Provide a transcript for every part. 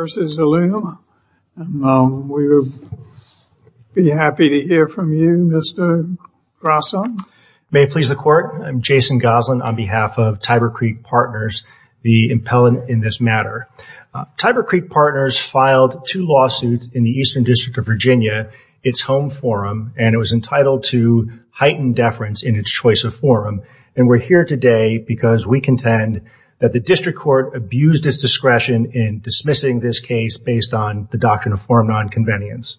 versus Ellume. We would be happy to hear from you Mr. Grosso. May it please the court, I'm Jason Goslin on behalf of Tiber Creek Partners, the impellent in this matter. Tiber Creek Partners filed two lawsuits in the Eastern District of Virginia, its home forum, and it was entitled to heightened deference in its choice of forum. And we're here today because we contend that the district court abused its discretion in dismissing this case based on the doctrine of forum non-convenience.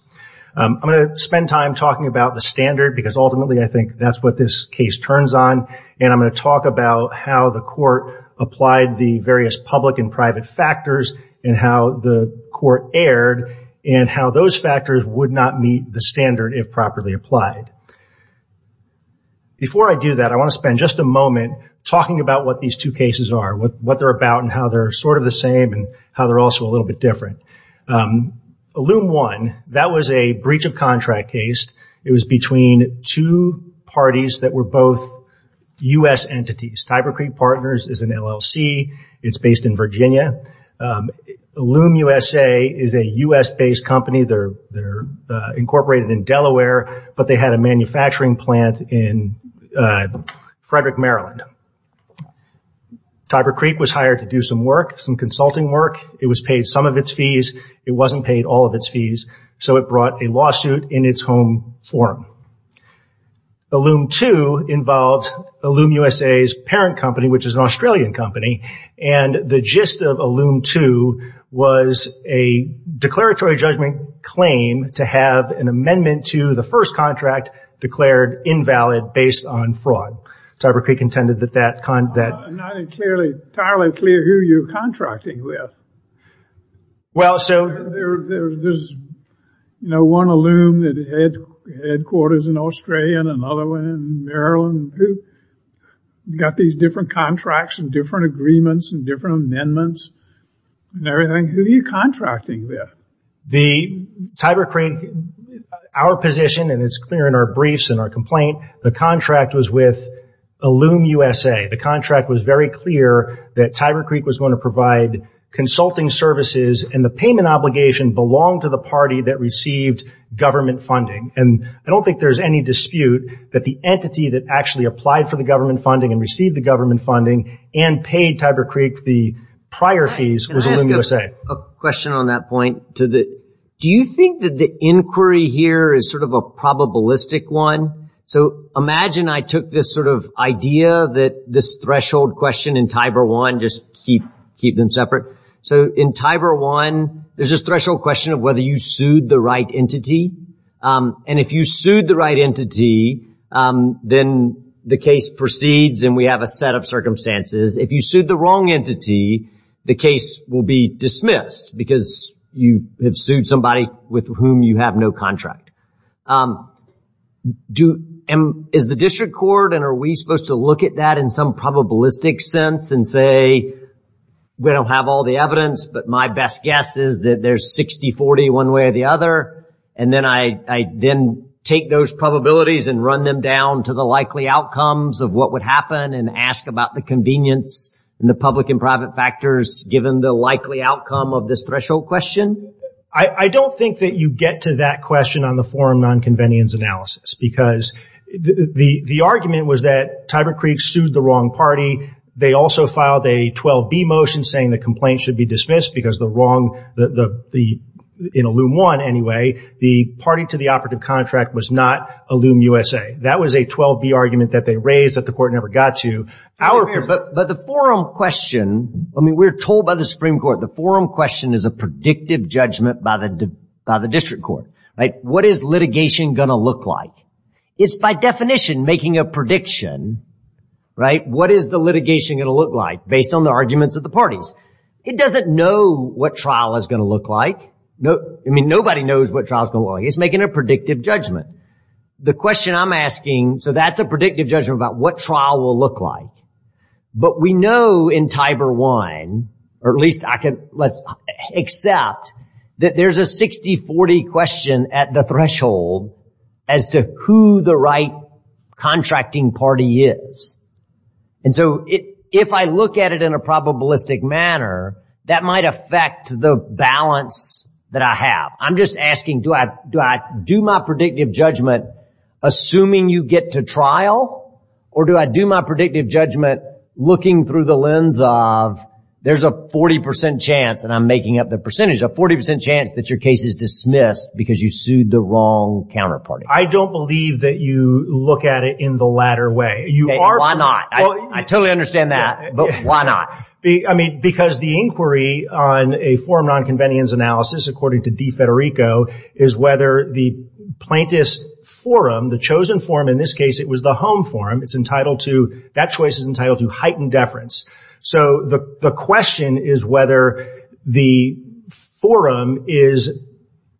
I'm going to spend time talking about the standard because ultimately I think that's what this case turns on and I'm going to talk about how the court applied the various public and private factors and how the court erred and how those factors would not meet the standard if properly applied. Before I do that I want to spend just a moment talking about what these two cases are, what they're about and how they're sort of the same and how they're also a little bit different. Ellume One, that was a breach of contract case. It was between two parties that were both US entities. Tiber Creek Partners is an LLC, it's based in Virginia. Ellume USA is a US based company. They're incorporated in Delaware but they had a Tiber Creek was hired to do some work, some consulting work. It was paid some of its fees, it wasn't paid all of its fees, so it brought a lawsuit in its home form. Ellume Two involved Ellume USA's parent company which is an Australian company and the gist of Ellume Two was a declaratory judgment claim to have an amendment to the first contract declared invalid based on fraud. Tiber Creek intended that that... I'm not entirely clear who you're contracting with. There's one Ellume that headquarters in Australia and another one in Maryland. You've got these different contracts and different agreements and different amendments and everything. Who are you contracting with? The Tiber Creek, our position and it's in our briefs and our complaint, the contract was with Ellume USA. The contract was very clear that Tiber Creek was going to provide consulting services and the payment obligation belonged to the party that received government funding. I don't think there's any dispute that the entity that actually applied for the government funding and received the government funding and paid Tiber Creek the prior fees was Ellume USA. A question on that point. Do you think that the inquiry here is sort of a probabilistic one? So imagine I took this sort of idea that this threshold question in Tiber One, just keep them separate. So in Tiber One there's this threshold question of whether you sued the right entity and if you sued the right entity then the case proceeds and we have a set of circumstances. If you sued the wrong entity the case will be dismissed because you have sued somebody with whom you have no contract. Is the district court and are we supposed to look at that in some probabilistic sense and say we don't have all the evidence but my best guess is that there's 60-40 one way or the other and then I then take those probabilities and run them down to the likely outcomes of what would happen and ask about the convenience and the public and private factors given the likely outcome of this threshold question? I don't think that you get to that question on the forum non-convenience analysis because the the argument was that Tiber Creek sued the wrong party. They also filed a 12b motion saying the complaint should be dismissed because the wrong the the in Ellume One anyway the party to the operative contract was not Ellume USA. That was a 12b argument that they raised that the court never got to. But the forum question I mean we're told by the Supreme Court the forum question is a predictive judgment by the by the district court. What is litigation going to look like? It's by definition making a prediction. What is the litigation going to look like based on the arguments of the parties? It doesn't know what trial is going to look like. I mean nobody knows what trial is going to look like. It's making a predictive judgment. The question I'm asking so that's a predictive judgment about what trial will look like. But we know in Tiber One or at least I can let's accept that there's a 60-40 question at the threshold as to who the right contracting party is. And so it if I look at it in a probabilistic manner that might affect the balance that I have. I'm just asking do I do my predictive judgment assuming you get to trial or do I do my predictive judgment looking through the lens of there's a 40% chance and I'm making up the percentage a 40% chance that your case is dismissed because you sued the wrong counterparty. I don't believe that you look at it in the latter way. Why not? I totally understand that but why not? I mean because the inquiry on a forum non-convenience analysis according to De Federico is whether the plaintiff's forum the chosen forum in this case it was the home forum it's entitled to that choice is entitled to heightened deference. So the question is whether the forum is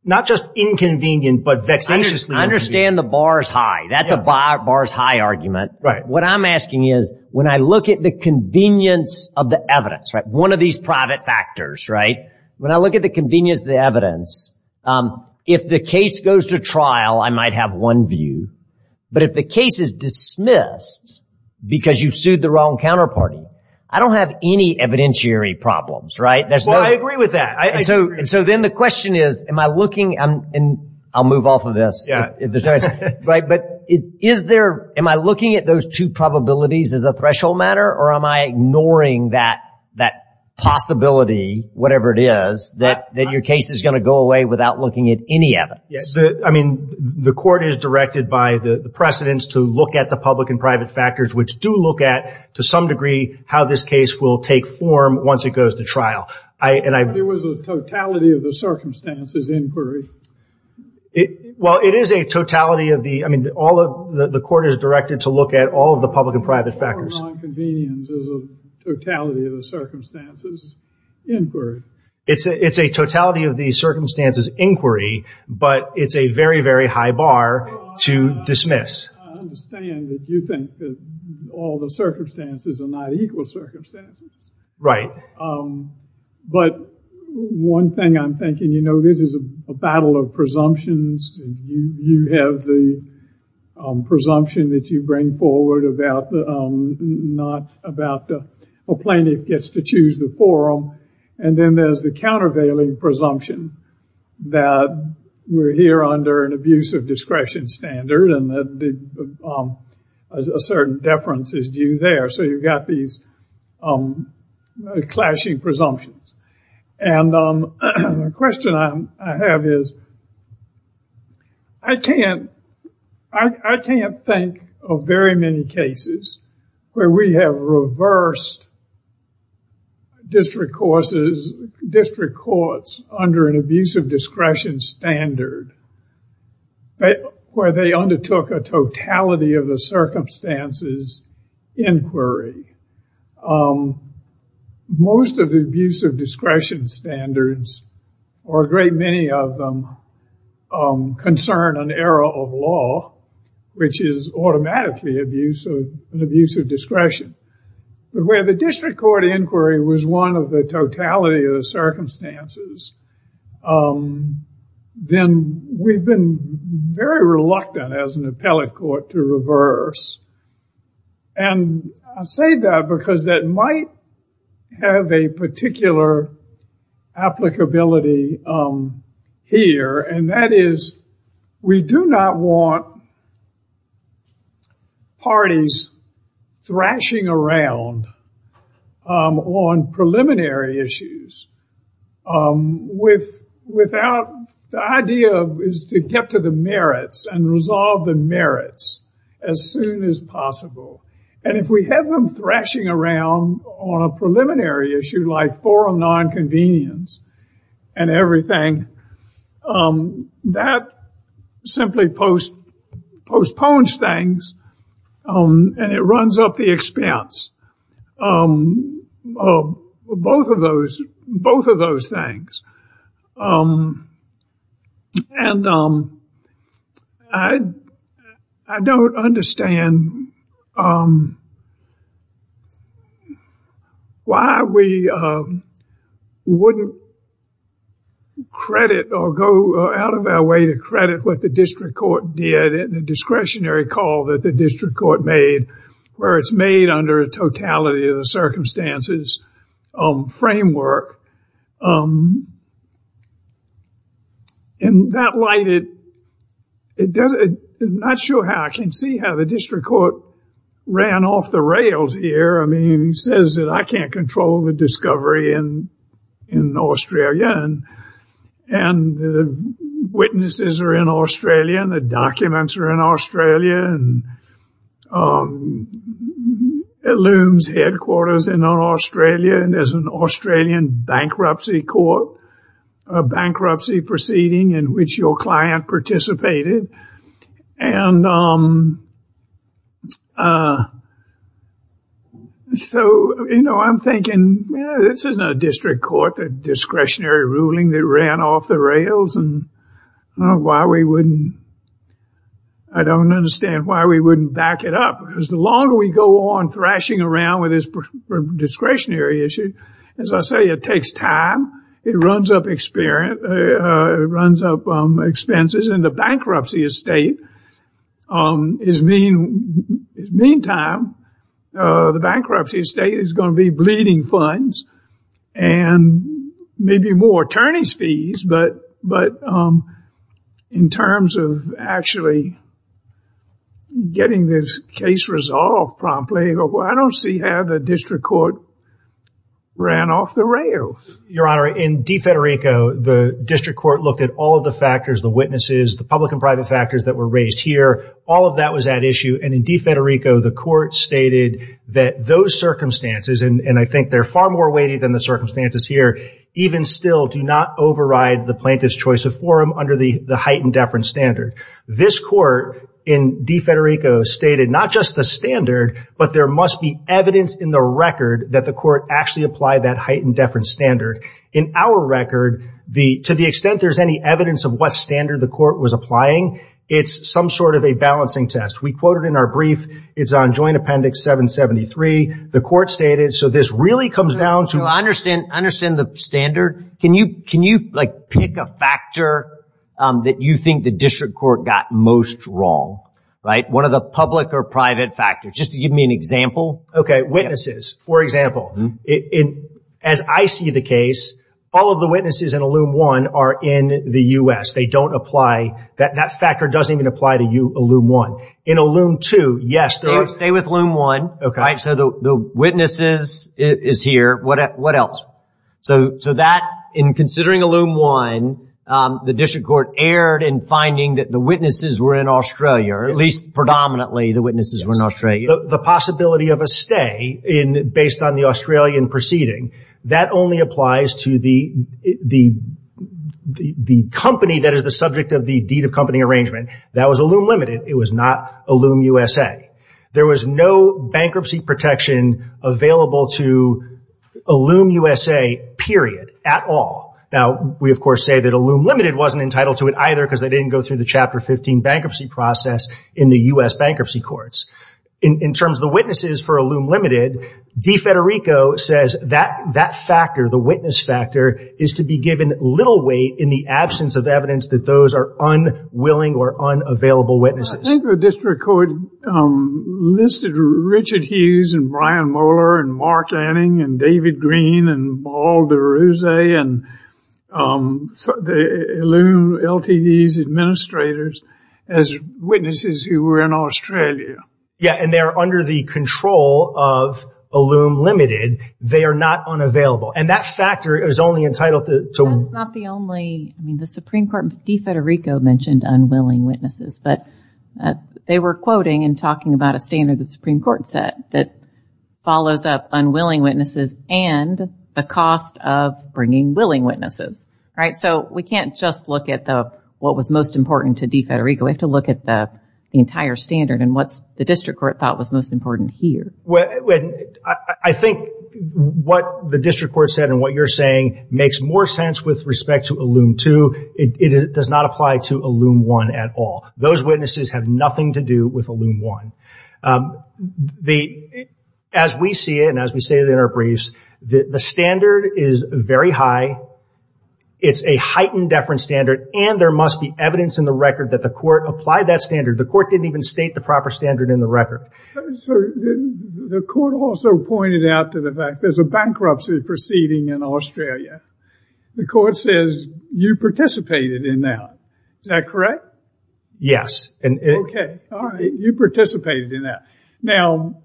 not just inconvenient but vexatiously inconvenient. I understand the bar's high. That's a bar's high argument. Right. What I'm asking is when I look at the convenience of the evidence right one of these private factors right when I look at the convenience the evidence if the case goes to trial I might have one view but if the case is dismissed because you've sued the wrong counterparty I don't have any evidentiary problems right. I agree with that. So then the question is am I looking and I'll move off of this right but it is there am I looking at those two probabilities as a threshold matter or am I ignoring that that possibility whatever it is that that your case is going to go away without looking at any of it. Yes I mean the court is directed by the precedents to look at the public and private factors which do look at to some degree how this case will take form once it goes to trial. I and I there was a totality of the circumstances inquiry it well it is a totality of the I mean all of the court is directed to look at all of the public and private factors. It's a it's a totality of the circumstances inquiry but it's a very very high bar to dismiss. But one thing I'm thinking you know this is a battle of presumptions you have the presumption that you bring forward about not about the plaintiff gets to choose the forum and then there's the countervailing presumption that we're here under an abuse of discretion standard and that a certain deference is due there so you've got these clashing presumptions. And the question I have is I can't I can't think of very many cases where we have reversed district courses district courts under an abuse of discretion standard where they undertook a totality of the circumstances inquiry. Most of the abuse of discretion standards or a great many of them concern an era of law which is automatically abuse of an abuse of discretion. But where the district court inquiry was one of the totality of the circumstances then we've been very reluctant as an appellate court to reverse. And I say that because that might have a particular applicability here and that is we do not want parties thrashing around on preliminary issues without the idea is to get to the merits and resolve the merits as soon as possible. And if we have them thrashing around on a preliminary issue like forum non-convenience and everything that simply post postpones things and it runs up the expense. Both of those things. And I don't understand why we wouldn't credit or go out of our way to credit what the district court did in the discretionary call that the district court made where it's made under a totality of the circumstances framework. In that light it does not show how I can see how the district court ran off the rails here. I mean he says that I can't control the discovery and in Australia and the witnesses are in Australia and the documents are in Australia and it looms headquarters in Australia and there's an Australian bankruptcy court, a bankruptcy proceeding in which your client participated. And so you know I'm thinking this isn't a district court discretionary ruling that ran off the rails and why we wouldn't I don't understand why we wouldn't back it up because the longer we go on thrashing around with this discretionary issue as I say it takes time it runs up experience it runs up expenses and the bankruptcy estate is mean time the bankruptcy estate is going to be bleeding funds and maybe more attorneys fees but in terms of actually getting this case resolved promptly I don't see how the district court ran off the rails. Your honor in DeFederico the district court looked at all of the factors the witnesses the public and private factors that were raised here all of that was at issue and in DeFederico the court stated that those circumstances and I think they're far more weighty than the circumstances here even still do not override the plaintiff's choice of forum under the the heightened deference standard. This court in DeFederico stated not just the standard but there must be evidence in the record that the court actually applied that heightened deference standard. In our record the to the extent there's any evidence of what standard the court was applying it's some sort of a balancing test we quoted in our brief it's on joint appendix 773 the court stated so this really comes down to understand understand the standard can you can you like pick a factor that you think the district court got most wrong right one of the public or private factors just to give me an example okay witnesses for example in as I see the case all of the witnesses in are in the US they don't apply that that factor doesn't even apply to you a loom one in a loom two yes they would stay with loom one okay so the witnesses is here what else so so that in considering a loom one the district court erred in finding that the witnesses were in Australia or at least predominantly the witnesses were in Australia. The possibility of a stay in based on the Australian proceeding that only applies to the the the company that is the subject of the deed of company arrangement that was a loom limited it was not a loom USA there was no bankruptcy protection available to a loom USA period at all now we of course say that a loom limited wasn't entitled to it either because they didn't go through the chapter 15 bankruptcy process in the US bankruptcy courts in terms of the witnesses for a loom limited De Federico says that that factor the witness factor is to be given little weight in the absence of evidence that those are unwilling or unavailable witnesses. I think the district court listed Richard Hughes and Brian Moeller and Mark Anning and David Green and Paul DeRose and the loom LTVs administrators as witnesses who were in Australia. Yeah and they're under the control of a loom limited they are not unavailable and that factor is only entitled to. It's not the only I mean the Supreme Court De Federico mentioned unwilling witnesses but they were quoting and talking about a standard the Supreme Court said that follows up unwilling witnesses and the cost of bringing willing witnesses right so we can't just look at the what was most important to De Federico we have to look at the entire standard and what's the district court thought was most important here. Well I think what the district court said and what you're saying makes more sense with respect to a loom two it does not apply to a loom one at all those witnesses have nothing to do with a loom one. The as we see it and as we say it in our briefs that the standard is very high it's a heightened deference standard and there must be evidence in the record that the court applied that standard the court didn't even state the proper standard in the record. The court also pointed out to the fact there's a bankruptcy proceeding in Australia the court says you participated in that is that correct? Yes and okay you participated in that now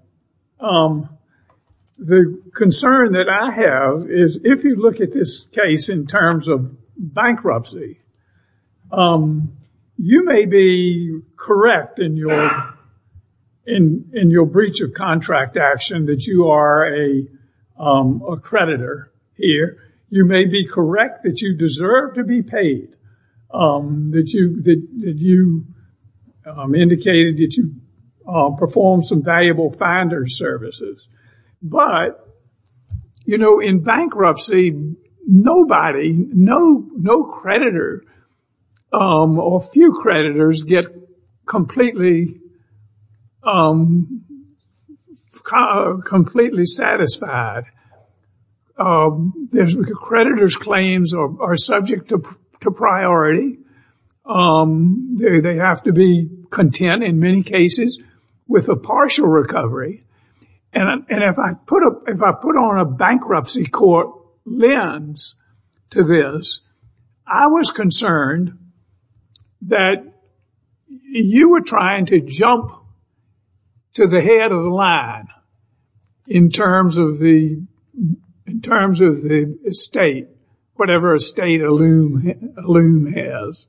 the concern that I have is if you look at this case in terms of bankruptcy you may be correct in your in in your breach of contract action that you are a creditor here you may be correct that you deserve to be paid that you that you indicated that you performed some valuable finder services but you know in bankruptcy nobody no no creditor or few creditors get completely completely satisfied there's creditors claims or are subject to priority they have to be content in many cases with a partial recovery and if I put up if I put on a bankruptcy court lens to this I was concerned that you were trying to jump to the head of the line in terms of the in terms of the state whatever a state a loom loom has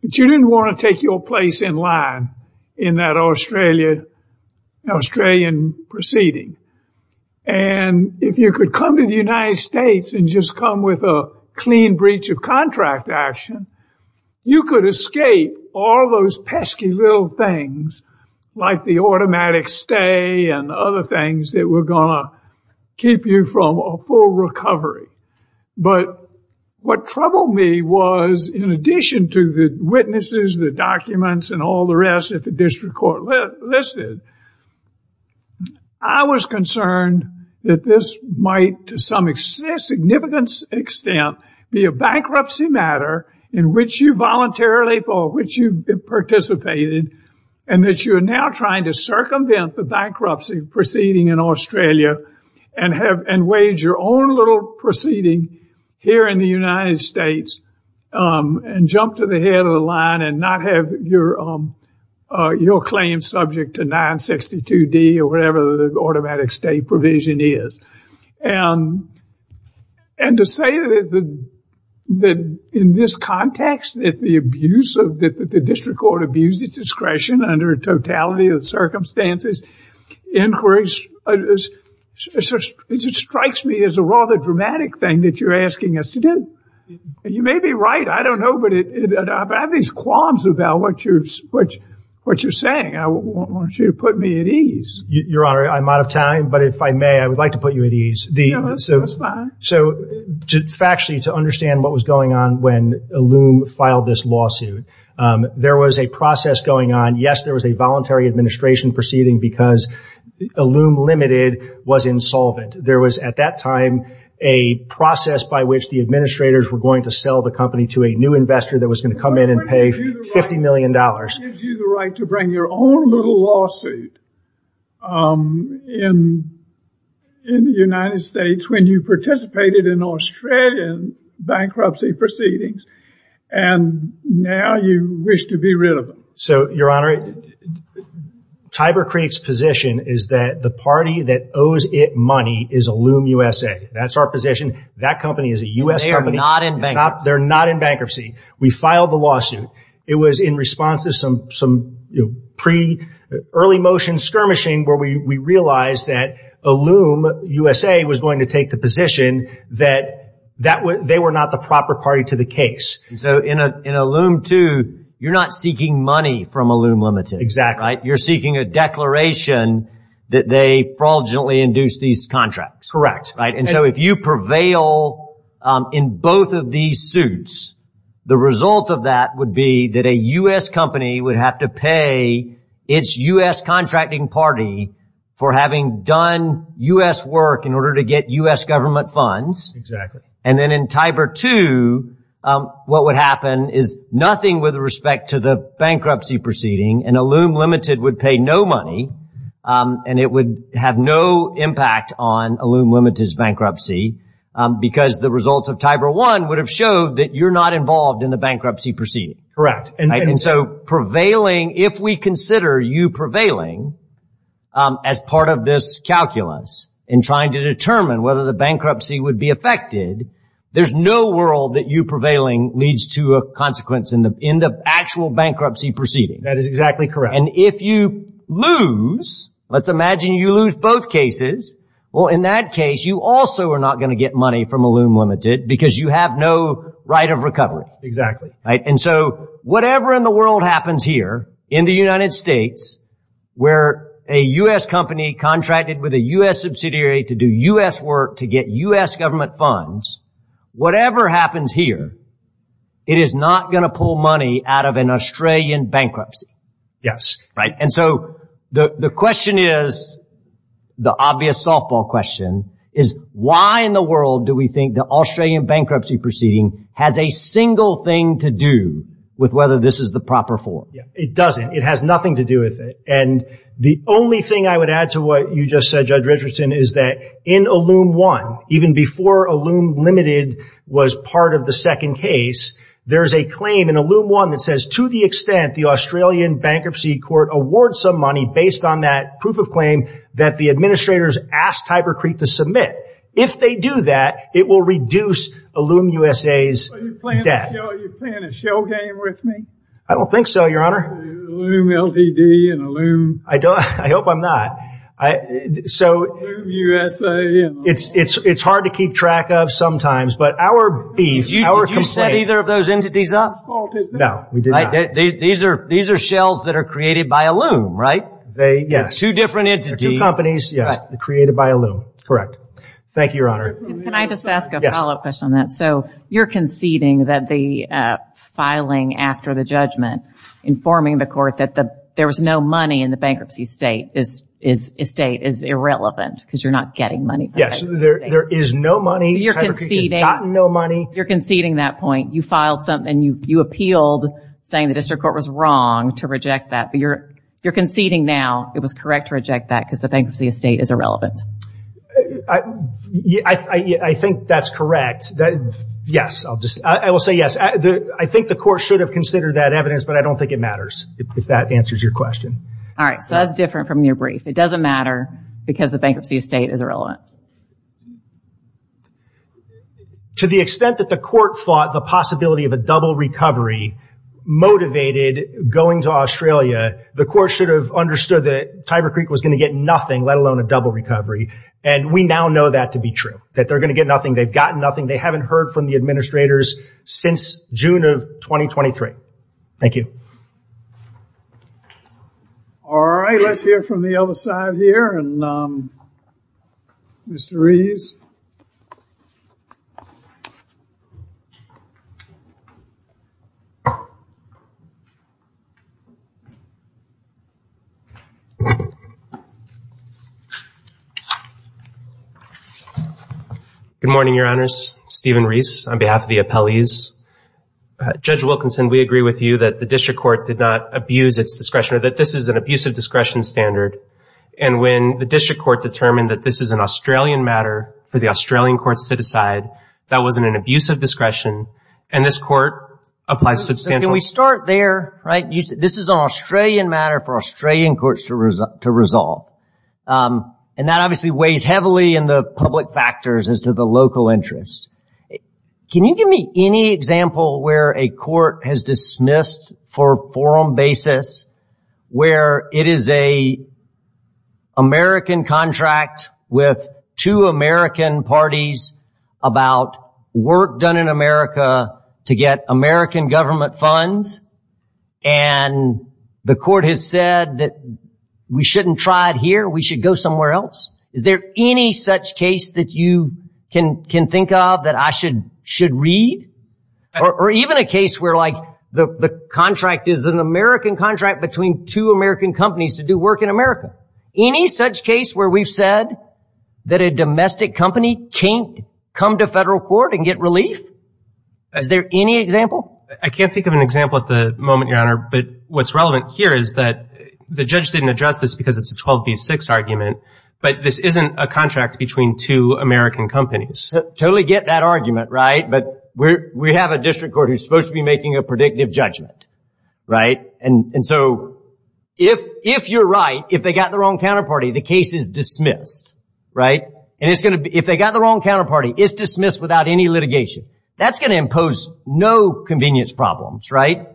but you didn't want to your place in line in that Australia Australian proceeding and if you could come to the United States and just come with a clean breach of contract action you could escape all those pesky little things like the automatic stay and other things that were gonna keep you from a full recovery but what troubled me was in addition to the witnesses the documents and all the rest at the district court listed I was concerned that this might to some extent significant extent be a bankruptcy matter in which you voluntarily for which you participated and that you are now trying to circumvent the bankruptcy proceeding in Australia and have and wage your own little proceeding here in the United States and jump to the head of the line and not have your own your claim subject to 962 D or whatever the automatic state provision is and and to say that the that in this context that the abuse of that the district court abused its discretion under a totality of circumstances inquiries as it strikes me as a rather dramatic thing that you're asking us to do you may be right I don't know but it I've had these qualms about what you're what what you're saying I want you to put me at ease your honor I'm out of time but if I may I would like to put you at ease the so so to actually to understand what was going on when a loom filed this lawsuit there was a process going on yes there was a voluntary administration proceeding because a loom limited was insolvent there was at that time a process by which the administrators were going to sell the company to a new investor that was going to come in and pay 50 million dollars right to bring your own little lawsuit in in the United States when you participated in Australian bankruptcy proceedings and now you wish to be rid so your honor Tiber Creek's position is that the party that owes it money is a loom USA that's our position that company is a u.s. they are not in bank not they're not in bankruptcy we filed the lawsuit it was in response to some some pre early motion skirmishing where we realized that a loom USA was going to take the position that that would they were not the proper party to the case in a loom to you're not seeking money from a loom limited exactly you're seeking a declaration that they probably induce these contracts correct right and so if you prevail in both of these suits the result of that would be that a u.s. company would have to pay its u.s. contracting party for having done u.s. work in order to get u.s. government funds and then in Tiber 2 what would happen is nothing with respect to the bankruptcy proceeding and a loom limited would pay no money and it would have no impact on a loom limited bankruptcy because the results of Tiber 1 would have showed that you're not involved in the bankruptcy proceeding correct and so prevailing if we consider you prevailing as part of this calculus in trying to determine whether the bankruptcy would be affected there's no world that you prevailing leads to a consequence in the in the actual bankruptcy proceeding that is exactly correct and if you lose let's imagine you lose both cases well in that case you also are not going to get money from a loom limited because you have no right of recovery exactly right and so whatever in the world happens here in the United States where a u.s. company contracted with a u.s. subsidiary to do u.s. work to get u.s. government funds whatever happens here it is not going to pull money out of an Australian bankruptcy yes right and so the question is the obvious softball question is why in the world do we think the Australian bankruptcy proceeding has a single thing to do with whether this is the proper form it doesn't it has nothing to do with it and the only thing I would add to what you just said judge Richardson is that in a loom one even before a loom limited was part of the second case there's a claim in a loom one that says to the extent the Australian bankruptcy court award some money based on that proof of claim that the administrators asked Tyber Creek to submit if they do that it will reduce a loom USA's I don't think so your honor I don't I hope I'm not I so it's it's it's hard to keep track of sometimes but our beef you set either of those entities up no we do right these are these are shells that are created by a loom right they yes two companies yes created by a loom correct thank you your honor so you're conceding that the filing after the judgment informing the court that the there was no money in the bankruptcy state this is a state is irrelevant because you're not getting money yes there is no money you're conceding no money you're conceding that point you filed something you you appealed saying the district court was wrong to reject that but you're you're conceding now it was correct to reject that because the bankruptcy estate is irrelevant I think that's correct that yes I'll just I will say yes I think the court should have considered that evidence but I don't think it matters if that answers your question all right so that's different from your brief it doesn't matter because the bankruptcy estate is irrelevant to the extent that the court fought the possibility of a double recovery motivated going to Australia the court should have understood that Tiber Creek was going to get nothing let alone a double recovery and we now know that to be true that they're gonna get nothing they've gotten nothing they haven't heard from the administrators since June of 2023 thank you all right let's hear from the other side here and mr. Reese good morning your honors Stephen Reese on behalf of the appellees judge Wilkinson we agree with you that the district court did not abuse its discretion or that this is an abusive discretion standard and when the district court determined that this is an Australian matter for the Australian courts to decide that wasn't an abusive discretion and this court applies substantially we start there right you this is an Australian matter for Australian courts to result to resolve and that obviously weighs heavily in the public factors as to the local interest can you give me any example where a with two American parties about work done in America to get American government funds and the court has said that we shouldn't try it here we should go somewhere else is there any such case that you can can think of that I should should read or even a case where like the contract is an American contract between two American companies to do work in America any such case where we've said that a domestic company can't come to federal court and get relief as there any example I can't think of an example at the moment your honor but what's relevant here is that the judge didn't address this because it's a 12 v 6 argument but this isn't a contract between two American companies totally get that argument right but we have a district court who's supposed to be making a predictive judgment right and so if if you're right if they got the wrong counterparty the case is dismissed right and it's going to be if they got the wrong counterparty is dismissed without any litigation that's going to impose no convenience problems right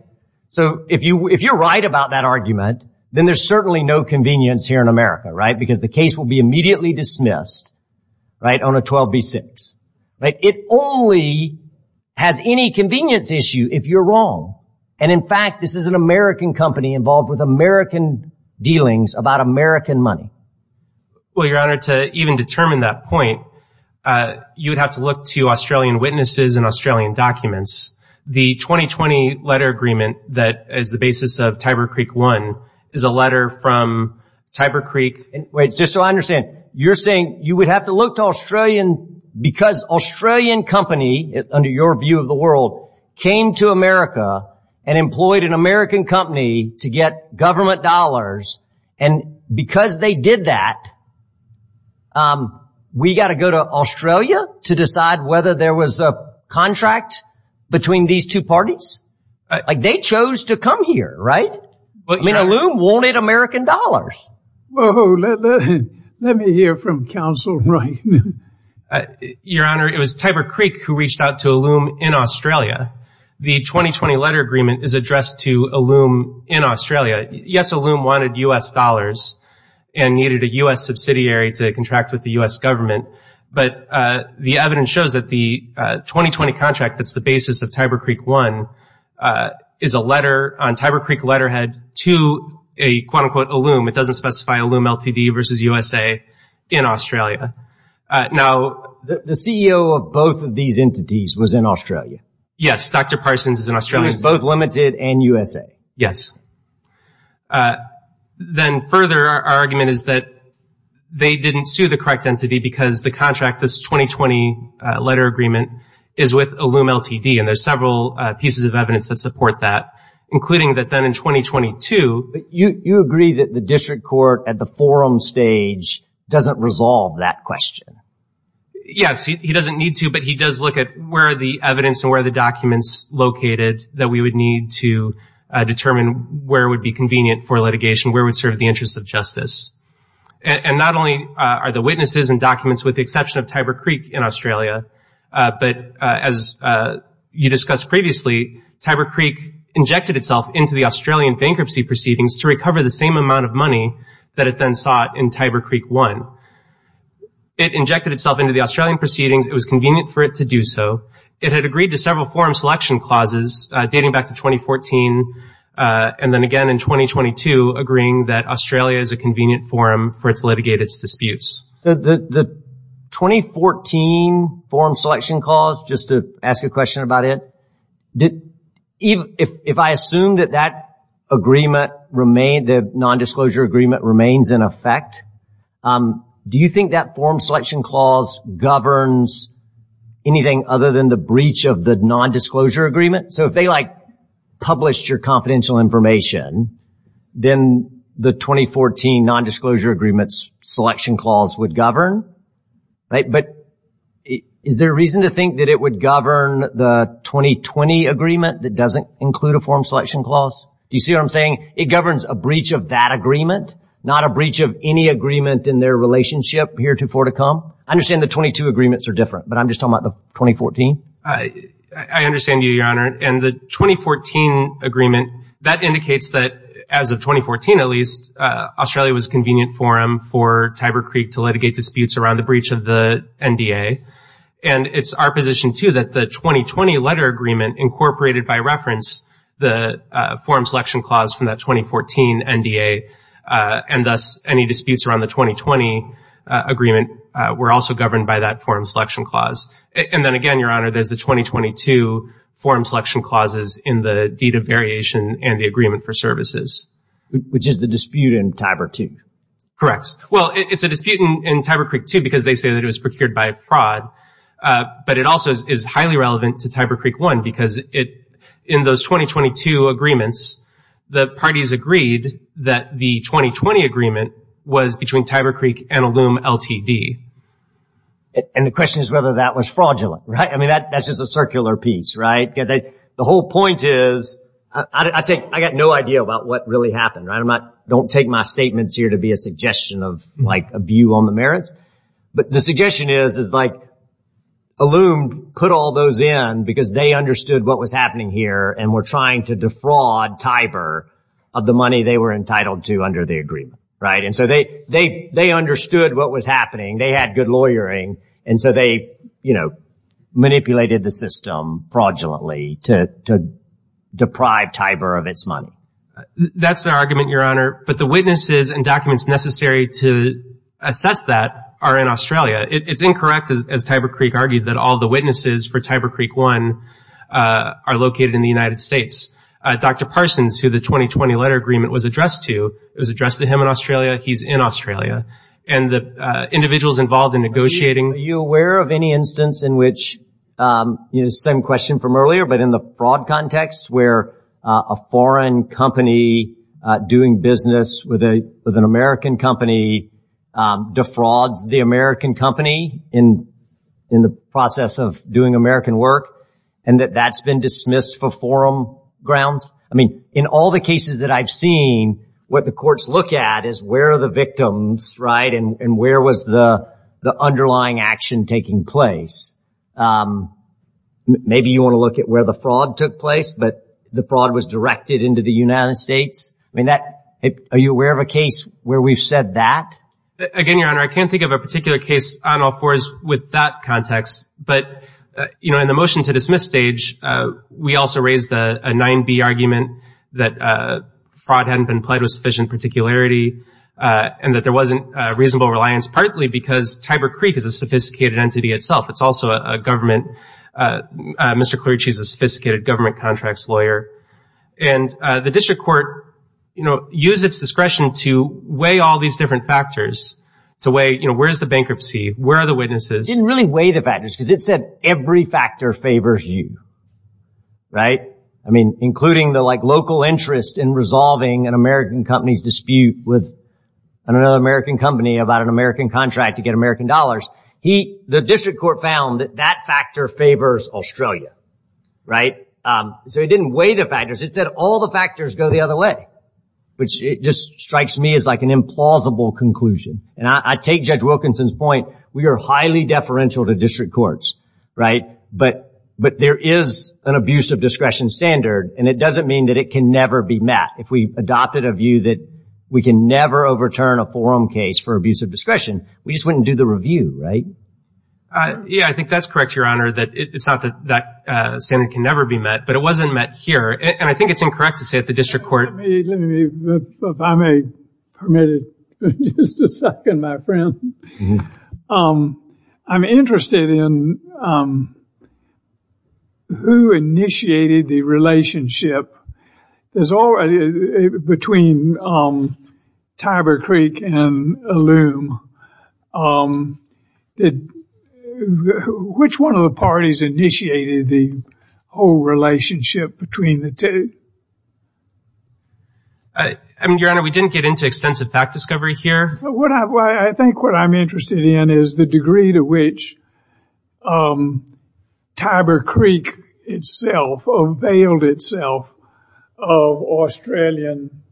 so if you if you're right about that argument then there's certainly no convenience here in America right because the case will be immediately dismissed right on a 12 v 6 right it only has any convenience issue if you're wrong and in fact this is an American company involved with American dealings about American money well your honor to even determine that point you would have to look to Australian witnesses and Australian documents the 2020 letter agreement that is the basis of Tiber Creek one is a letter from Tiber Creek wait just so I understand you're saying you would have to look to Australian because Australian company under your view of the world came to America and employed an American company to get government dollars and because they did that we got to go to Australia to decide whether there was a contract between these two parties like they right but you know loom wanted American dollars let me hear from counsel right your honor it was Tiber Creek who reached out to a loom in Australia the 2020 letter agreement is addressed to a loom in Australia yes a loom wanted US dollars and needed a US subsidiary to contract with the US government but the evidence shows that the 2020 contract that's the basis of Tiber Creek one is a letter on Tiber Creek letterhead to a quote-unquote loom it doesn't specify a loom LTD versus USA in Australia now the CEO of both of these entities was in Australia yes dr. Parsons is an Australian both limited and USA yes then further argument is that they didn't sue the correct entity because the contract this 2020 letter agreement is with a loom LTD and there's several pieces of evidence that support that including that then in 2022 you you agree that the district court at the forum stage doesn't resolve that question yes he doesn't need to but he does look at where the evidence and where the documents located that we would need to determine where would be convenient for litigation where would serve the interests of justice and not only are the witnesses and documents with the exception of Tiber Creek in Australia but as you discussed previously Tiber Creek injected itself into the Australian bankruptcy proceedings to recover the same amount of money that it then sought in Tiber Creek one it injected itself into the Australian proceedings it was convenient for it to do so it had agreed to several forum selection clauses dating back to 2014 and then again in 2022 agreeing that Australia is a convenient forum for its litigate its disputes the 2014 forum selection clause just to ask a question about it did even if I assume that that agreement remained the non-disclosure agreement remains in effect do you think that form selection clause governs anything other than the breach of the non-disclosure agreement so if they like published your confidential information then the 2014 non-disclosure agreements selection clause would govern right but is there a reason to think that it would govern the 2020 agreement that doesn't include a form selection clause you see what I'm saying it governs a breach of that agreement not a breach of any agreement in their relationship here to for to come I understand the 22 agreements are different but I'm just talking about the 2014 I understand you your honor and the 2014 agreement that indicates that as of 2014 at least Australia was convenient forum for Tiber Creek to litigate disputes around the breach of the NDA and it's our position to that the 2020 letter agreement incorporated by reference the forum selection clause from that 2014 NDA and thus any disputes around the 2020 agreement were also governed by that forum selection clause and then again your honor there's the 2022 forum selection clauses in the deed of variation and the agreement for services which is the dispute in Tiber to correct well it's a disputant in Tiber Creek to because they say that it was procured by a fraud but it also is highly relevant to Tiber Creek one because it in those 2022 agreements the parties agreed that the 2020 agreement was between Tiber Creek and a loom LTD and the question is whether that was fraudulent right I mean that that's just a circular piece right get that the point is I think I got no idea about what really happened right I'm not don't take my statements here to be a suggestion of like a view on the merits but the suggestion is is like a loom put all those in because they understood what was happening here and we're trying to defraud Tiber of the money they were entitled to under the agreement right and so they they they understood what was happening they had good lawyering and so they you know manipulated the system fraudulently to deprive Tiber of its money that's the argument your honor but the witnesses and documents necessary to assess that are in Australia it's incorrect as Tiber Creek argued that all the witnesses for Tiber Creek one are located in the United States dr. Parsons who the 2020 letter agreement was addressed to it was addressed to him in Australia he's in Australia and the individuals involved in negotiating you aware of any instance in which you know same question from earlier but in the fraud context where a foreign company doing business with a with an American company defrauds the American company in in the process of doing American work and that that's been dismissed for forum grounds I mean in all the cases that I've seen what the courts look at is where are the victims right and and where was the the underlying action taking place maybe you want to look at where the fraud took place but the fraud was directed into the United States I mean that are you aware of a case where we've said that again your honor I can't think of a particular case on all fours with that context but you know in the motion to dismiss stage we also raised a 9b argument that fraud hadn't been played with sufficient particularity and that there wasn't reasonable reliance partly because Tiber Creek is a sophisticated entity itself it's also a government mr. clergy's a sophisticated government contracts lawyer and the district court you know use its discretion to weigh all these different factors to weigh you know where's the bankruptcy where are the witnesses didn't really weigh the factors because it said every factor favors you right I mean including the like local interest in resolving an American companies dispute with another American company about an American contract to get American dollars he the district court found that that factor favors Australia right so he didn't weigh the factors it said all the factors go the other way which it just strikes me as like an implausible conclusion and I take judge Wilkinson's point we are highly deferential to district courts right but but there is an abuse of discretion standard and it doesn't mean that it can never be met if we adopted a review that we can never overturn a forum case for abuse of discretion we just wouldn't do the review right yeah I think that's correct your honor that it's not that that standard can never be met but it wasn't met here and I think it's incorrect to say at the district court I'm a permitted just a second my friend I'm interested in who initiated the relationship there's already between Tiber Creek and loom did which one of the parties initiated the whole relationship between the two I mean your honor we didn't get into extensive fact discovery here what I think what I'm interested in is the degree to which Tiber Creek itself of veiled itself of Australian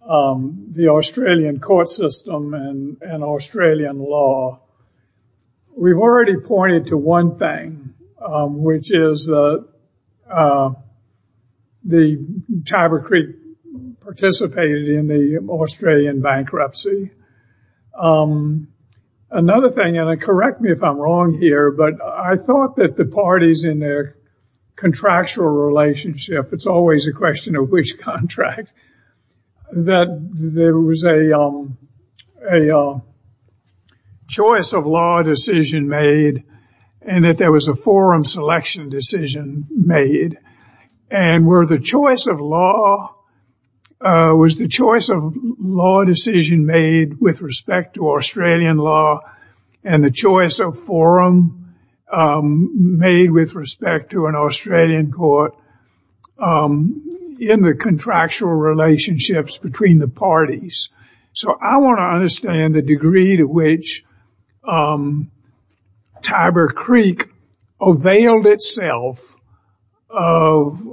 the Australian court system and an Australian law we've already pointed to one thing which is the Tiber Creek participated in the Australian bankruptcy another thing and I correct me if I'm wrong here but I thought that the parties in their contractual relationship it's always a question of which contract that there was a choice of law decision made and that there was a forum selection decision made and were the choice of law was the choice of law decision made with respect to Australian law and the choice of forum made with respect to an Australian court in the contractual relationships between the parties so I want to understand the degree to which Tiber Creek availed itself of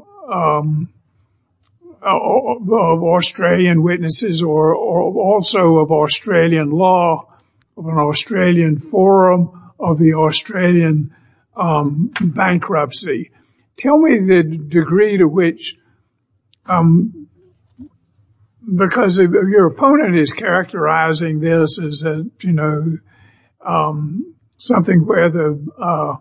Australian witnesses or also of Australian law of an Australian forum of the Australian bankruptcy tell me the degree to which because your opponent is characterizing this as a you know something where the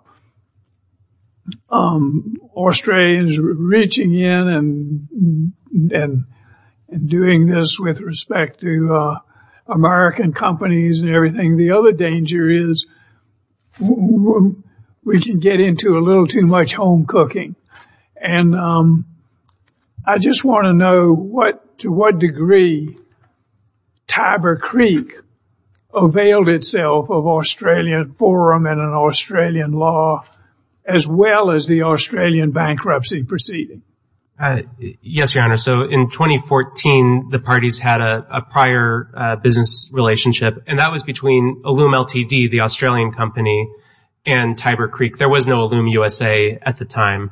Australians reaching in and and doing this with respect to American companies and everything the other danger is we can get into a little too much home cooking and I just want to know what to what degree Tiber Creek availed itself of Australian forum and an Australian law as well as the Australian bankruptcy proceeding yes your honor so in 2014 the parties had a prior business relationship and that was between a loom LTD the Australian company and Tiber Creek there was no loom USA at the time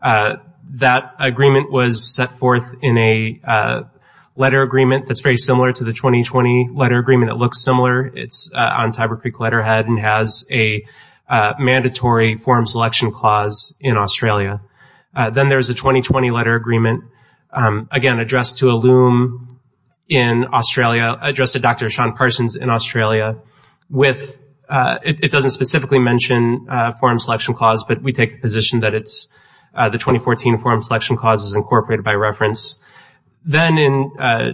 that agreement was set forth in a letter agreement that's very similar to the 2020 letter agreement it looks similar it's on Tiber Creek letterhead and has a mandatory forum selection clause in Australia then there's a 2020 letter agreement again addressed to a loom in Australia addressed to dr. Sean Parsons in Australia with it doesn't specifically mention forum selection clause but we take a position that it's the 2014 forum selection clauses incorporated by reference then in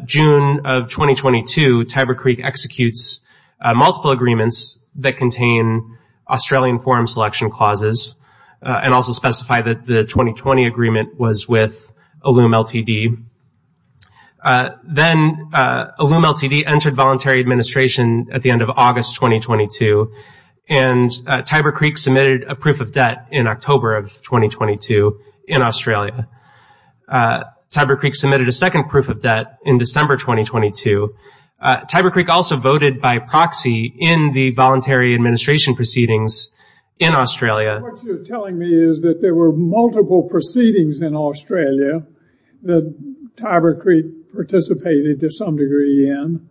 June of 2022 Tiber Creek executes multiple agreements that contain Australian forum selection clauses and also specify that the 2020 agreement was with a loom LTD then a loom LTD entered voluntary administration at the end of August 2022 and Tiber Creek submitted a proof of debt in October of 2022 in Australia Tiber Creek submitted a second proof of debt in December 2022 Tiber Creek also voted by proxy in the voluntary administration proceedings in Australia that there were multiple proceedings in Australia the Tiber Creek participated to some degree in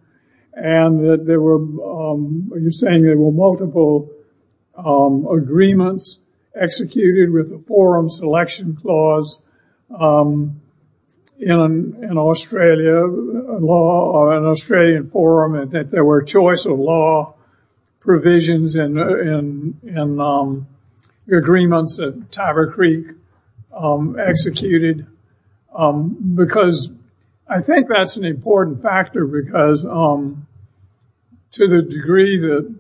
and that there were you're saying there were multiple agreements executed with the forum selection clause in an Australia law or an Australian forum and that there were choice of law provisions and agreements at Tiber Creek executed because I think that's an important factor because um to the degree that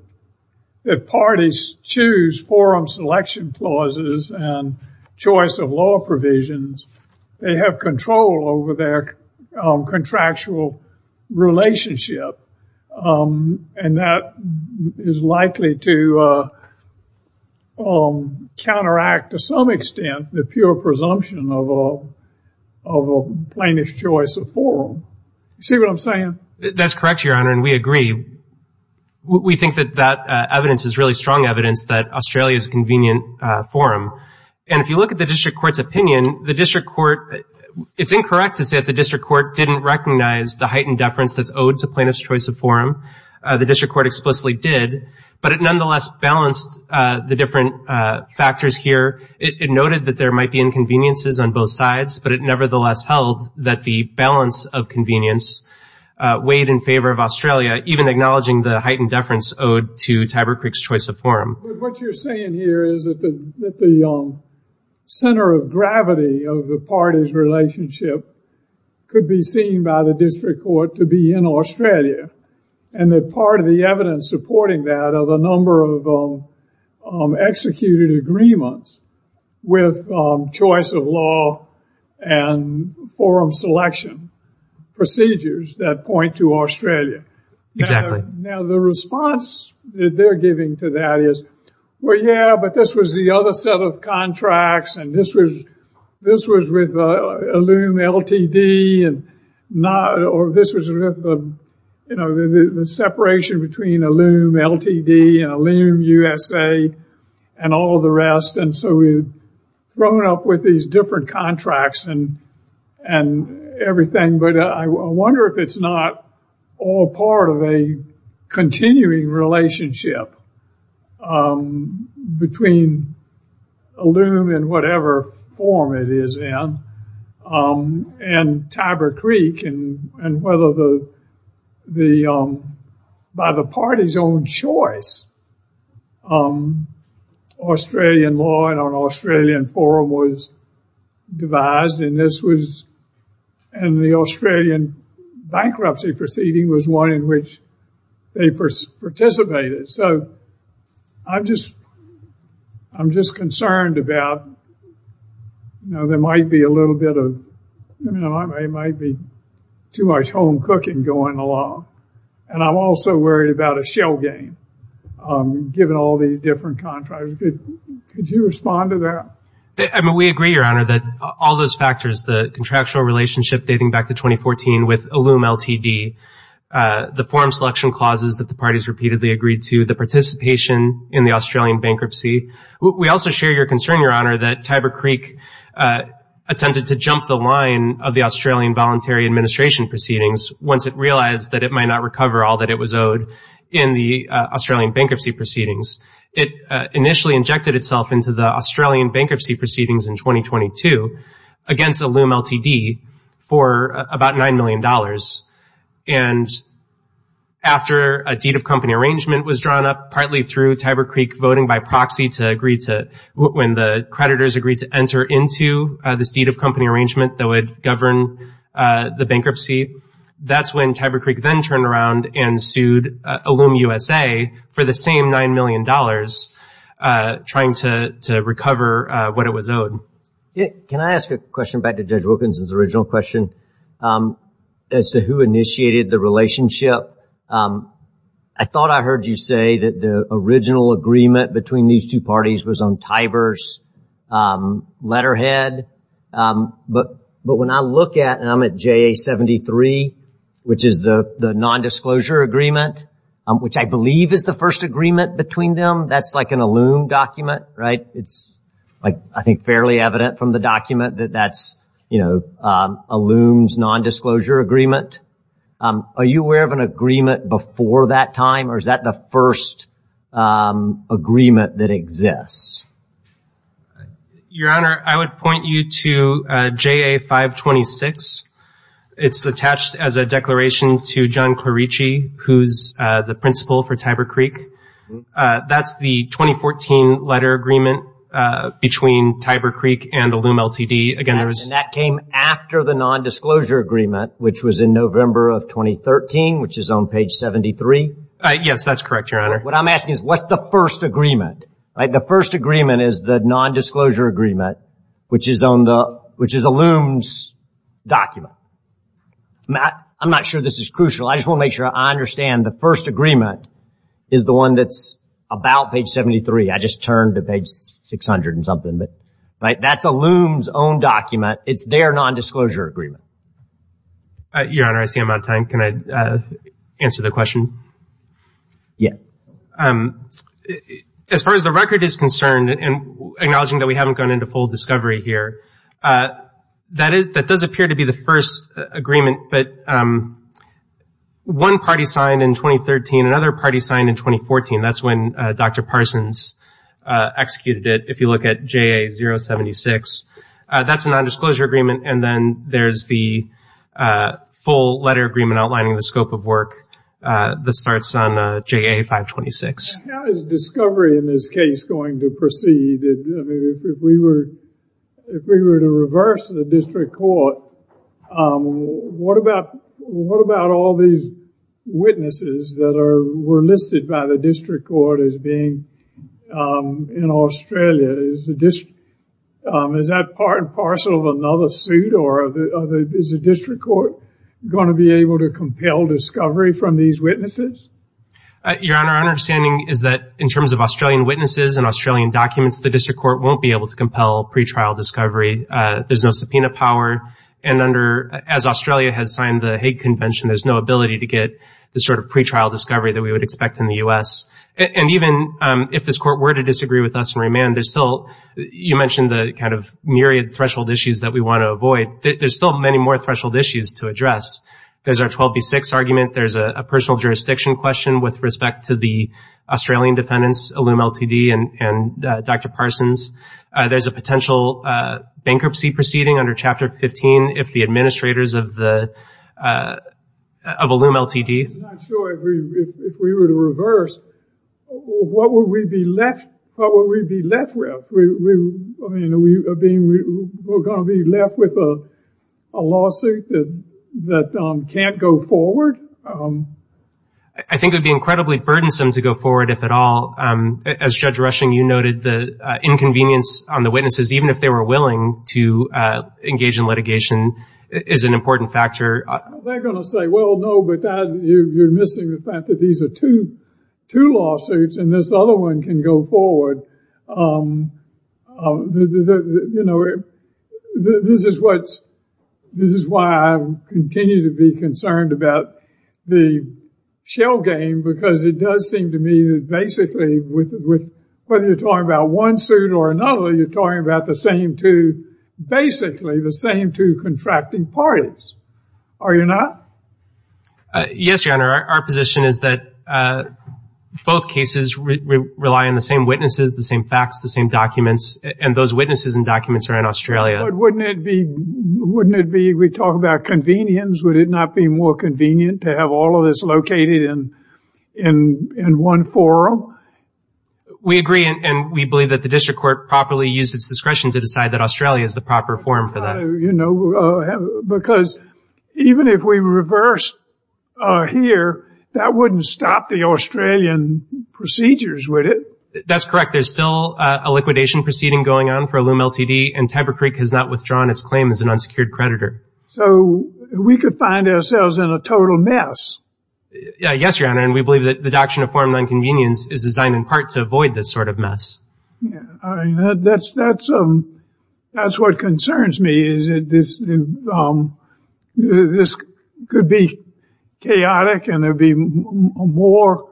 the parties choose forum selection clauses and choice of law provisions they have control over their contractual relationship and that is likely to counteract to some extent the pure presumption of a plaintiff's choice of forum see what I'm saying that's correct your honor and we agree we think that that evidence is really strong evidence that Australia's convenient forum and if you look at the district court's opinion the district court it's incorrect to say that the district court didn't recognize the heightened deference that's owed to plaintiff's choice of forum the district court explicitly did but it nonetheless balanced the different factors here it noted that there might be inconveniences on both sides but it nevertheless held that the balance of convenience weighed in favor of Australia even acknowledging the heightened deference owed to Tiber Creek's choice of forum what you're saying here is that the center of gravity of the party's relationship could be seen by the district court to be in Australia and that part of the evidence supporting that of a number of executed agreements with choice of law and forum selection procedures that point to Australia exactly now the response that they're giving to that is well yeah but this was the other set of contracts and this was this was with a loom LTD and not or this was you know the separation between a loom LTD and a loom USA and all the rest and so we've thrown up with these different contracts and and everything but I wonder if it's not all part of a continuing relationship between a loom and whatever form it is in and Tiber Creek and and whether the the by the party's own choice Australian law and on Australian forum was devised and this was and the Australian bankruptcy proceeding was one in which they participated so I'm just I'm just concerned about you know there might be a little bit of you know I might be too much home cooking going along and I'm also worried about a shell game given all these different contractors good could you respond to that I mean we agree your honor that all those factors the contractual relationship dating back to 2014 with a loom LTD the forum selection clauses that the party's repeatedly agreed to the participation in the Australian bankruptcy we also share your concern your honor that Tiber Creek attempted to jump the line of the Australian voluntary administration proceedings once it realized that it might not recover all that it was owed in the Australian bankruptcy proceedings it initially injected itself into the Australian bankruptcy proceedings in against a loom LTD for about nine million dollars and after a deed of company arrangement was drawn up partly through Tiber Creek voting by proxy to agree to when the creditors agreed to enter into this deed of company arrangement that would govern the bankruptcy that's when Tiber Creek then turned around and sued a loom USA for the same nine million dollars trying to recover what it was owed yeah can I ask a question back to judge Wilkinson's original question as to who initiated the relationship I thought I heard you say that the original agreement between these two parties was on Tibers letterhead but but when I look at and I'm at JA 73 which is the the nondisclosure agreement which I believe is the first agreement between them that's like an a loom document right it's like I think fairly evident from the document that that's you know a looms nondisclosure agreement are you aware of an agreement before that time or is that the first agreement that exists your honor I would point you to JA 526 it's attached as a declaration to John Clarici who's the principal for Tiber Creek that's the 2014 letter agreement between Tiber Creek and a loom LTD again there's that came after the nondisclosure agreement which was in November of 2013 which is on page 73 yes that's correct your honor what I'm asking is what's the first agreement right the first agreement is the nondisclosure agreement which is on the which is a looms document Matt I'm not sure this is crucial I just won't make sure I understand the first agreement is the one that's about page 73 I just turned to page 600 and something but right that's a looms own document it's their nondisclosure agreement your honor I see I'm on time can I answer the question yes as far as the record is concerned and acknowledging that we gone into full discovery here that is that does appear to be the first agreement but one party signed in 2013 another party signed in 2014 that's when dr. Parsons executed it if you look at JA 076 that's a nondisclosure agreement and then there's the full letter agreement outlining the scope of work the starts on JA 526 discovery in this case going to proceed if we were to reverse the district court what about what about all these witnesses that are were listed by the district court as being in Australia is the district is that part and parcel of another suit or the other is a district court going to be able to compel discovery from these witnesses your honor understanding is that in terms of Australian witnesses and Australian documents the district court won't be able to compel pretrial discovery there's no subpoena power and under as Australia has signed the Hague Convention there's no ability to get the sort of pretrial discovery that we would expect in the u.s. and even if this court were to disagree with us and remand there's still you mentioned the kind of myriad threshold issues that we want to avoid there's still many more threshold issues to address there's our 12 v 6 argument there's a personal jurisdiction question with respect to the Australian defendants a loom LTD and dr. Parsons there's a potential bankruptcy proceeding under chapter 15 if the administrators of the of a loom LTD if we were to reverse what would we be left with a lawsuit that can't go forward I think it'd be incredibly burdensome to go forward if at all as judge rushing you noted the inconvenience on the witnesses even if they were willing to engage in litigation is an important factor they're gonna say well no but you're missing the fact that these are two two lawsuits and this other one can go forward you know this is what this is why I continue to be concerned about the shell game because it does seem to me that basically with with whether you're talking about one suit or another you're talking about the same two basically the same two contracting parties are you not yes your honor our position is that both cases rely on the same witnesses the same facts the same documents and those witnesses and documents are in Australia wouldn't it be wouldn't it be we talk about convenience would it not be more convenient to have all of this located in in in one forum we agree and we believe that the district court properly use its discretion to decide that the proper form for that you know because even if we reverse here that wouldn't stop the Australian procedures with it that's correct there's still a liquidation proceeding going on for a loom LTD and Tiber Creek has not withdrawn its claim as an unsecured creditor so we could find ourselves in a total mess yes your honor and we believe that the doctrine of foreign inconvenience is designed in part to avoid this sort of mess that's that's um that's what concerns me is it this this could be chaotic and there'd be more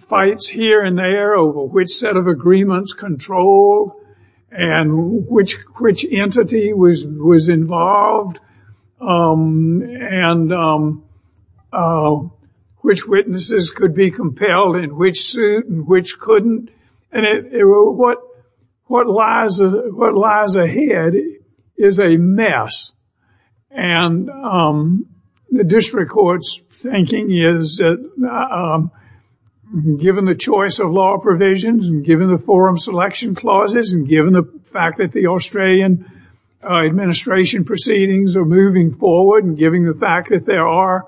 fights here and there over which set of agreements control and which entity was was involved and which witnesses could be compelled in which suit which couldn't and it what what lies what lies ahead is a mess and the district courts thinking is given the choice of law provisions and given the selection clauses and given the fact that the Australian administration proceedings are moving forward and giving the fact that there are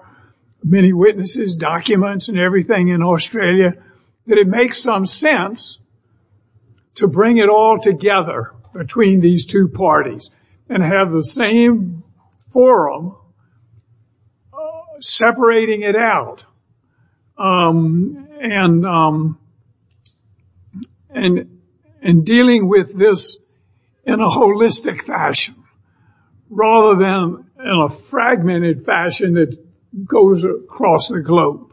many witnesses documents and everything in Australia that it makes some sense to bring it all together between these two parties and have the same forum separating it out and and and dealing with this in a holistic fashion rather than in a fragmented fashion that goes across the globe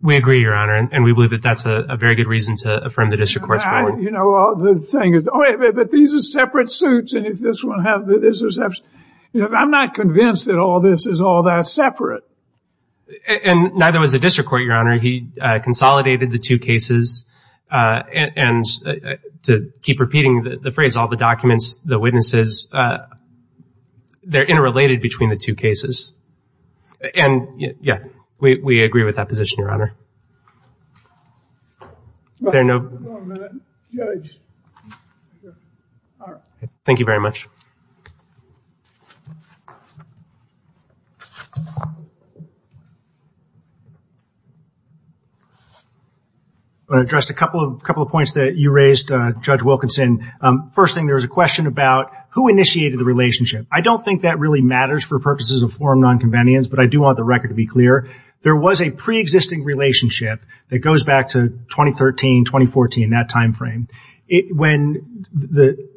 we agree your honor and we believe that that's a very good reason to affirm the district courts you know the thing is oh yeah but these are separate suits and if this one have I'm not convinced that all this is all that separate and neither was the district court your honor he consolidated the two cases and to keep repeating the phrase all the documents the witnesses they're interrelated between the two cases and yeah we agree with that position your honor thank you thank you very much I addressed a couple of couple of points that you raised judge Wilkinson first thing there was a question about who initiated the relationship I don't think that really matters for purposes of forum nonconvenience but I do want the record to be clear there was a pre-existing relationship that goes back to 2013 2014 that time frame it when the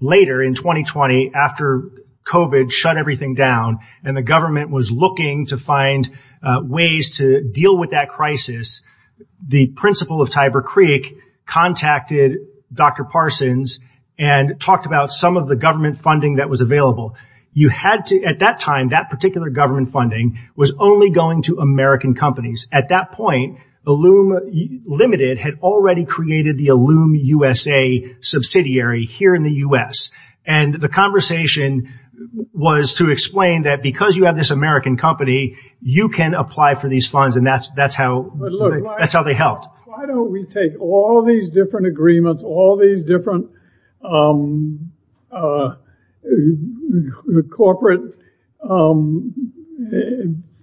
later in 2020 after COVID shut everything down and the government was looking to find ways to deal with that crisis the principal of Tiber Creek contacted dr. Parsons and talked about some of the government funding that was available you had to at that time that particular government funding was only going to American companies at that point the loom limited had already created the loom USA subsidiary here in the u.s. and the conversation was to explain that because you have this American company you can apply for these funds and that's that's how that's how they helped why don't we take all these different agreements all these different corporate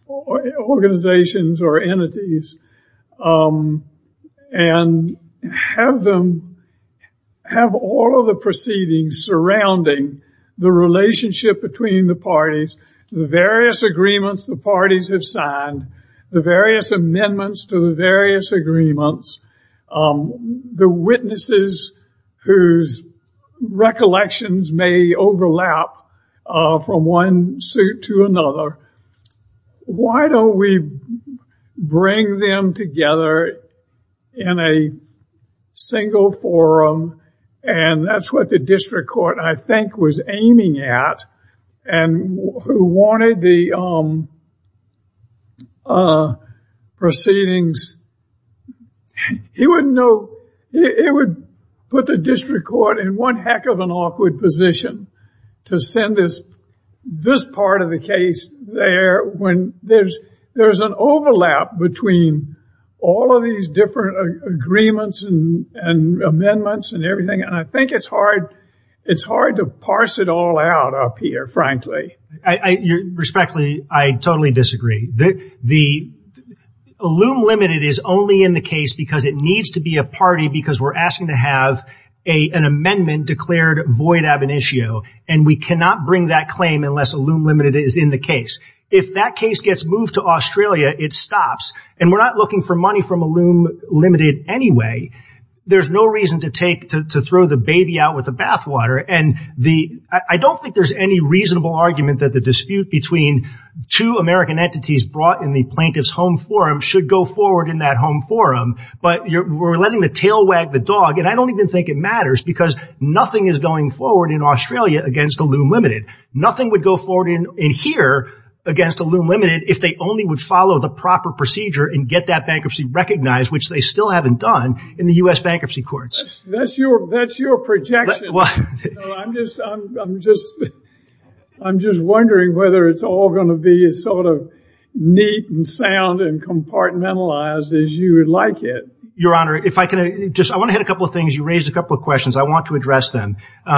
organizations or entities and have them have all of the proceedings surrounding the relationship between the parties the various agreements the parties have signed the various amendments to the various agreements the witnesses whose recollections may overlap from one suit to another why don't we bring them together in a single forum and that's what the district court I think was aiming at and who wanted the proceedings he wouldn't know it would put the district court in one heck of an awkward position to send this this part of the case there when there's there's an overlap between all of these different agreements and amendments and everything I think it's hard it's hard to parse it all out up here frankly I respectfully I totally disagree that the loom limited is only in the case because it needs to be a party because we're asking to have an amendment declared void ab initio and we cannot bring that claim unless a loom limited is in the case if that case gets moved to Australia it stops and we're not looking for money from a loom limited anyway there's no reason to take to throw the baby out with the bathwater and the I don't think there's any reasonable argument that the dispute between two American entities brought in the plaintiff's home forum should go forward in that home forum but you were letting the tail wag the dog and I don't even think it matters because nothing is going forward in Australia against a loom limited nothing would go forward in here against a loom limited if they only would follow the proper procedure and get that bankruptcy recognized which they still haven't done in the US bankruptcy courts that's your that's your projection I'm just I'm just I'm just wondering whether it's all going to be a sort of neat and sound and compartmentalized as you would like it your honor if I can just I want to hit a couple of things you raised a couple of questions I want to address them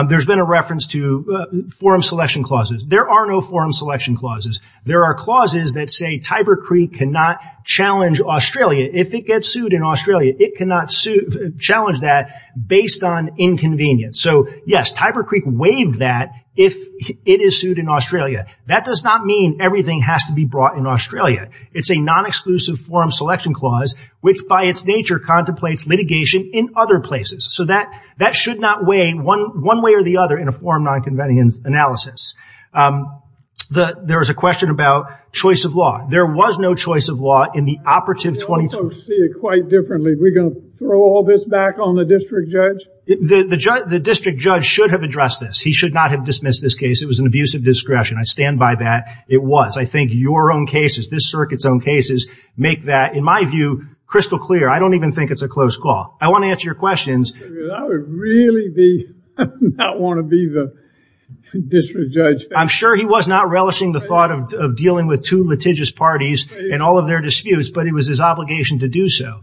there's been a reference to forum selection clauses there are no forum selection clauses there are clauses that say Tiber Creek cannot challenge Australia if it gets sued in Australia it cannot sue challenge that based on inconvenience so yes Tiber Creek waived that if it is sued in Australia that does not mean everything has to be brought in Australia it's a non-exclusive forum selection clause which by its nature contemplates litigation in other places so that that should not weigh one one way or the other in a forum non convenience analysis the there is a question about choice of law there was no choice of law in the operative 20 quite differently we're gonna throw all this back on the district judge the judge the district judge should have addressed this he should not have dismissed this case it was an abuse of discretion I stand by that it was I think your own cases this circuits own cases make that in my view crystal clear I don't even think it's a close call I answer your questions I'm sure he was not relishing the thought of dealing with two litigious parties and all of their disputes but it was his obligation to do so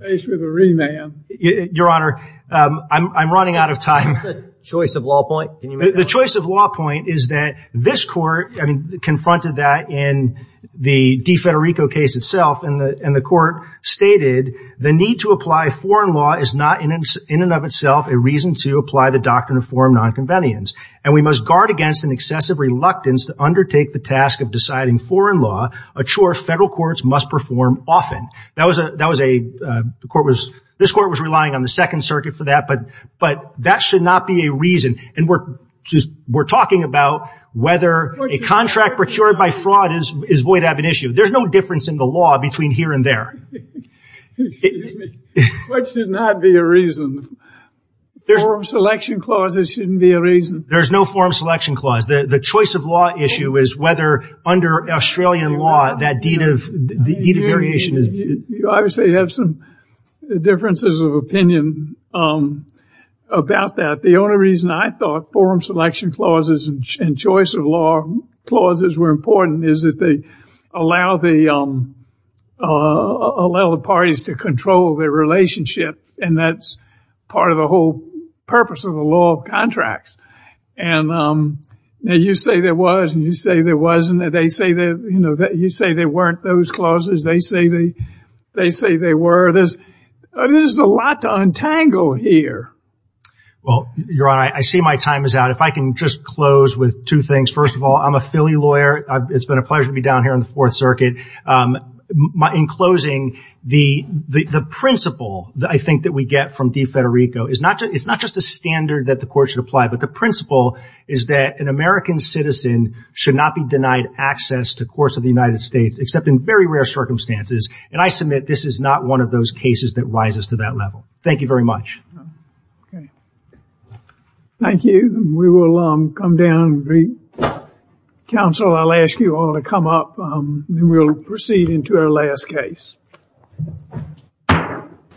your honor I'm running out of time choice of law point the choice of law point is that this court I mean confronted that in the D Federico case itself in the in the court stated the need to apply foreign law is not in its in and of itself a reason to apply the doctrine of forum nonconvenience and we must guard against an excessive reluctance to undertake the task of deciding foreign law a chore federal courts must perform often that was a that was a court was this court was relying on the Second Circuit for that but but that should not be a reason and we're just we're talking about whether a contract procured by fraud is is void have an issue there's no difference in the law between here and there there's selection clauses shouldn't be a reason there's no forum selection clause the the choice of law issue is whether under Australian law that deed of the variation is you obviously have some differences of opinion about that the only reason I thought forum selection clauses and choice of law clauses were important is that they allow the allow the parties to control their relationship and that's part of the whole purpose of the law contracts and now you say there was and you say there wasn't that they say that you know that you say there weren't those clauses they say they they say they were this there's a lot to untangle here well your honor I see my time is out if I can just close with two things first of all I'm a Philly lawyer it's been a pleasure to be down here in the Fourth Circuit my in closing the the principle that I think that we get from de Federico is not just it's not just a standard that the court should apply but the principle is that an American citizen should not be denied access to course of the United States except in very rare circumstances and I submit this is not one of those cases that rises to that level thank you very much okay thank you we will come down three counsel I'll ask you all to come up and we'll proceed into our last case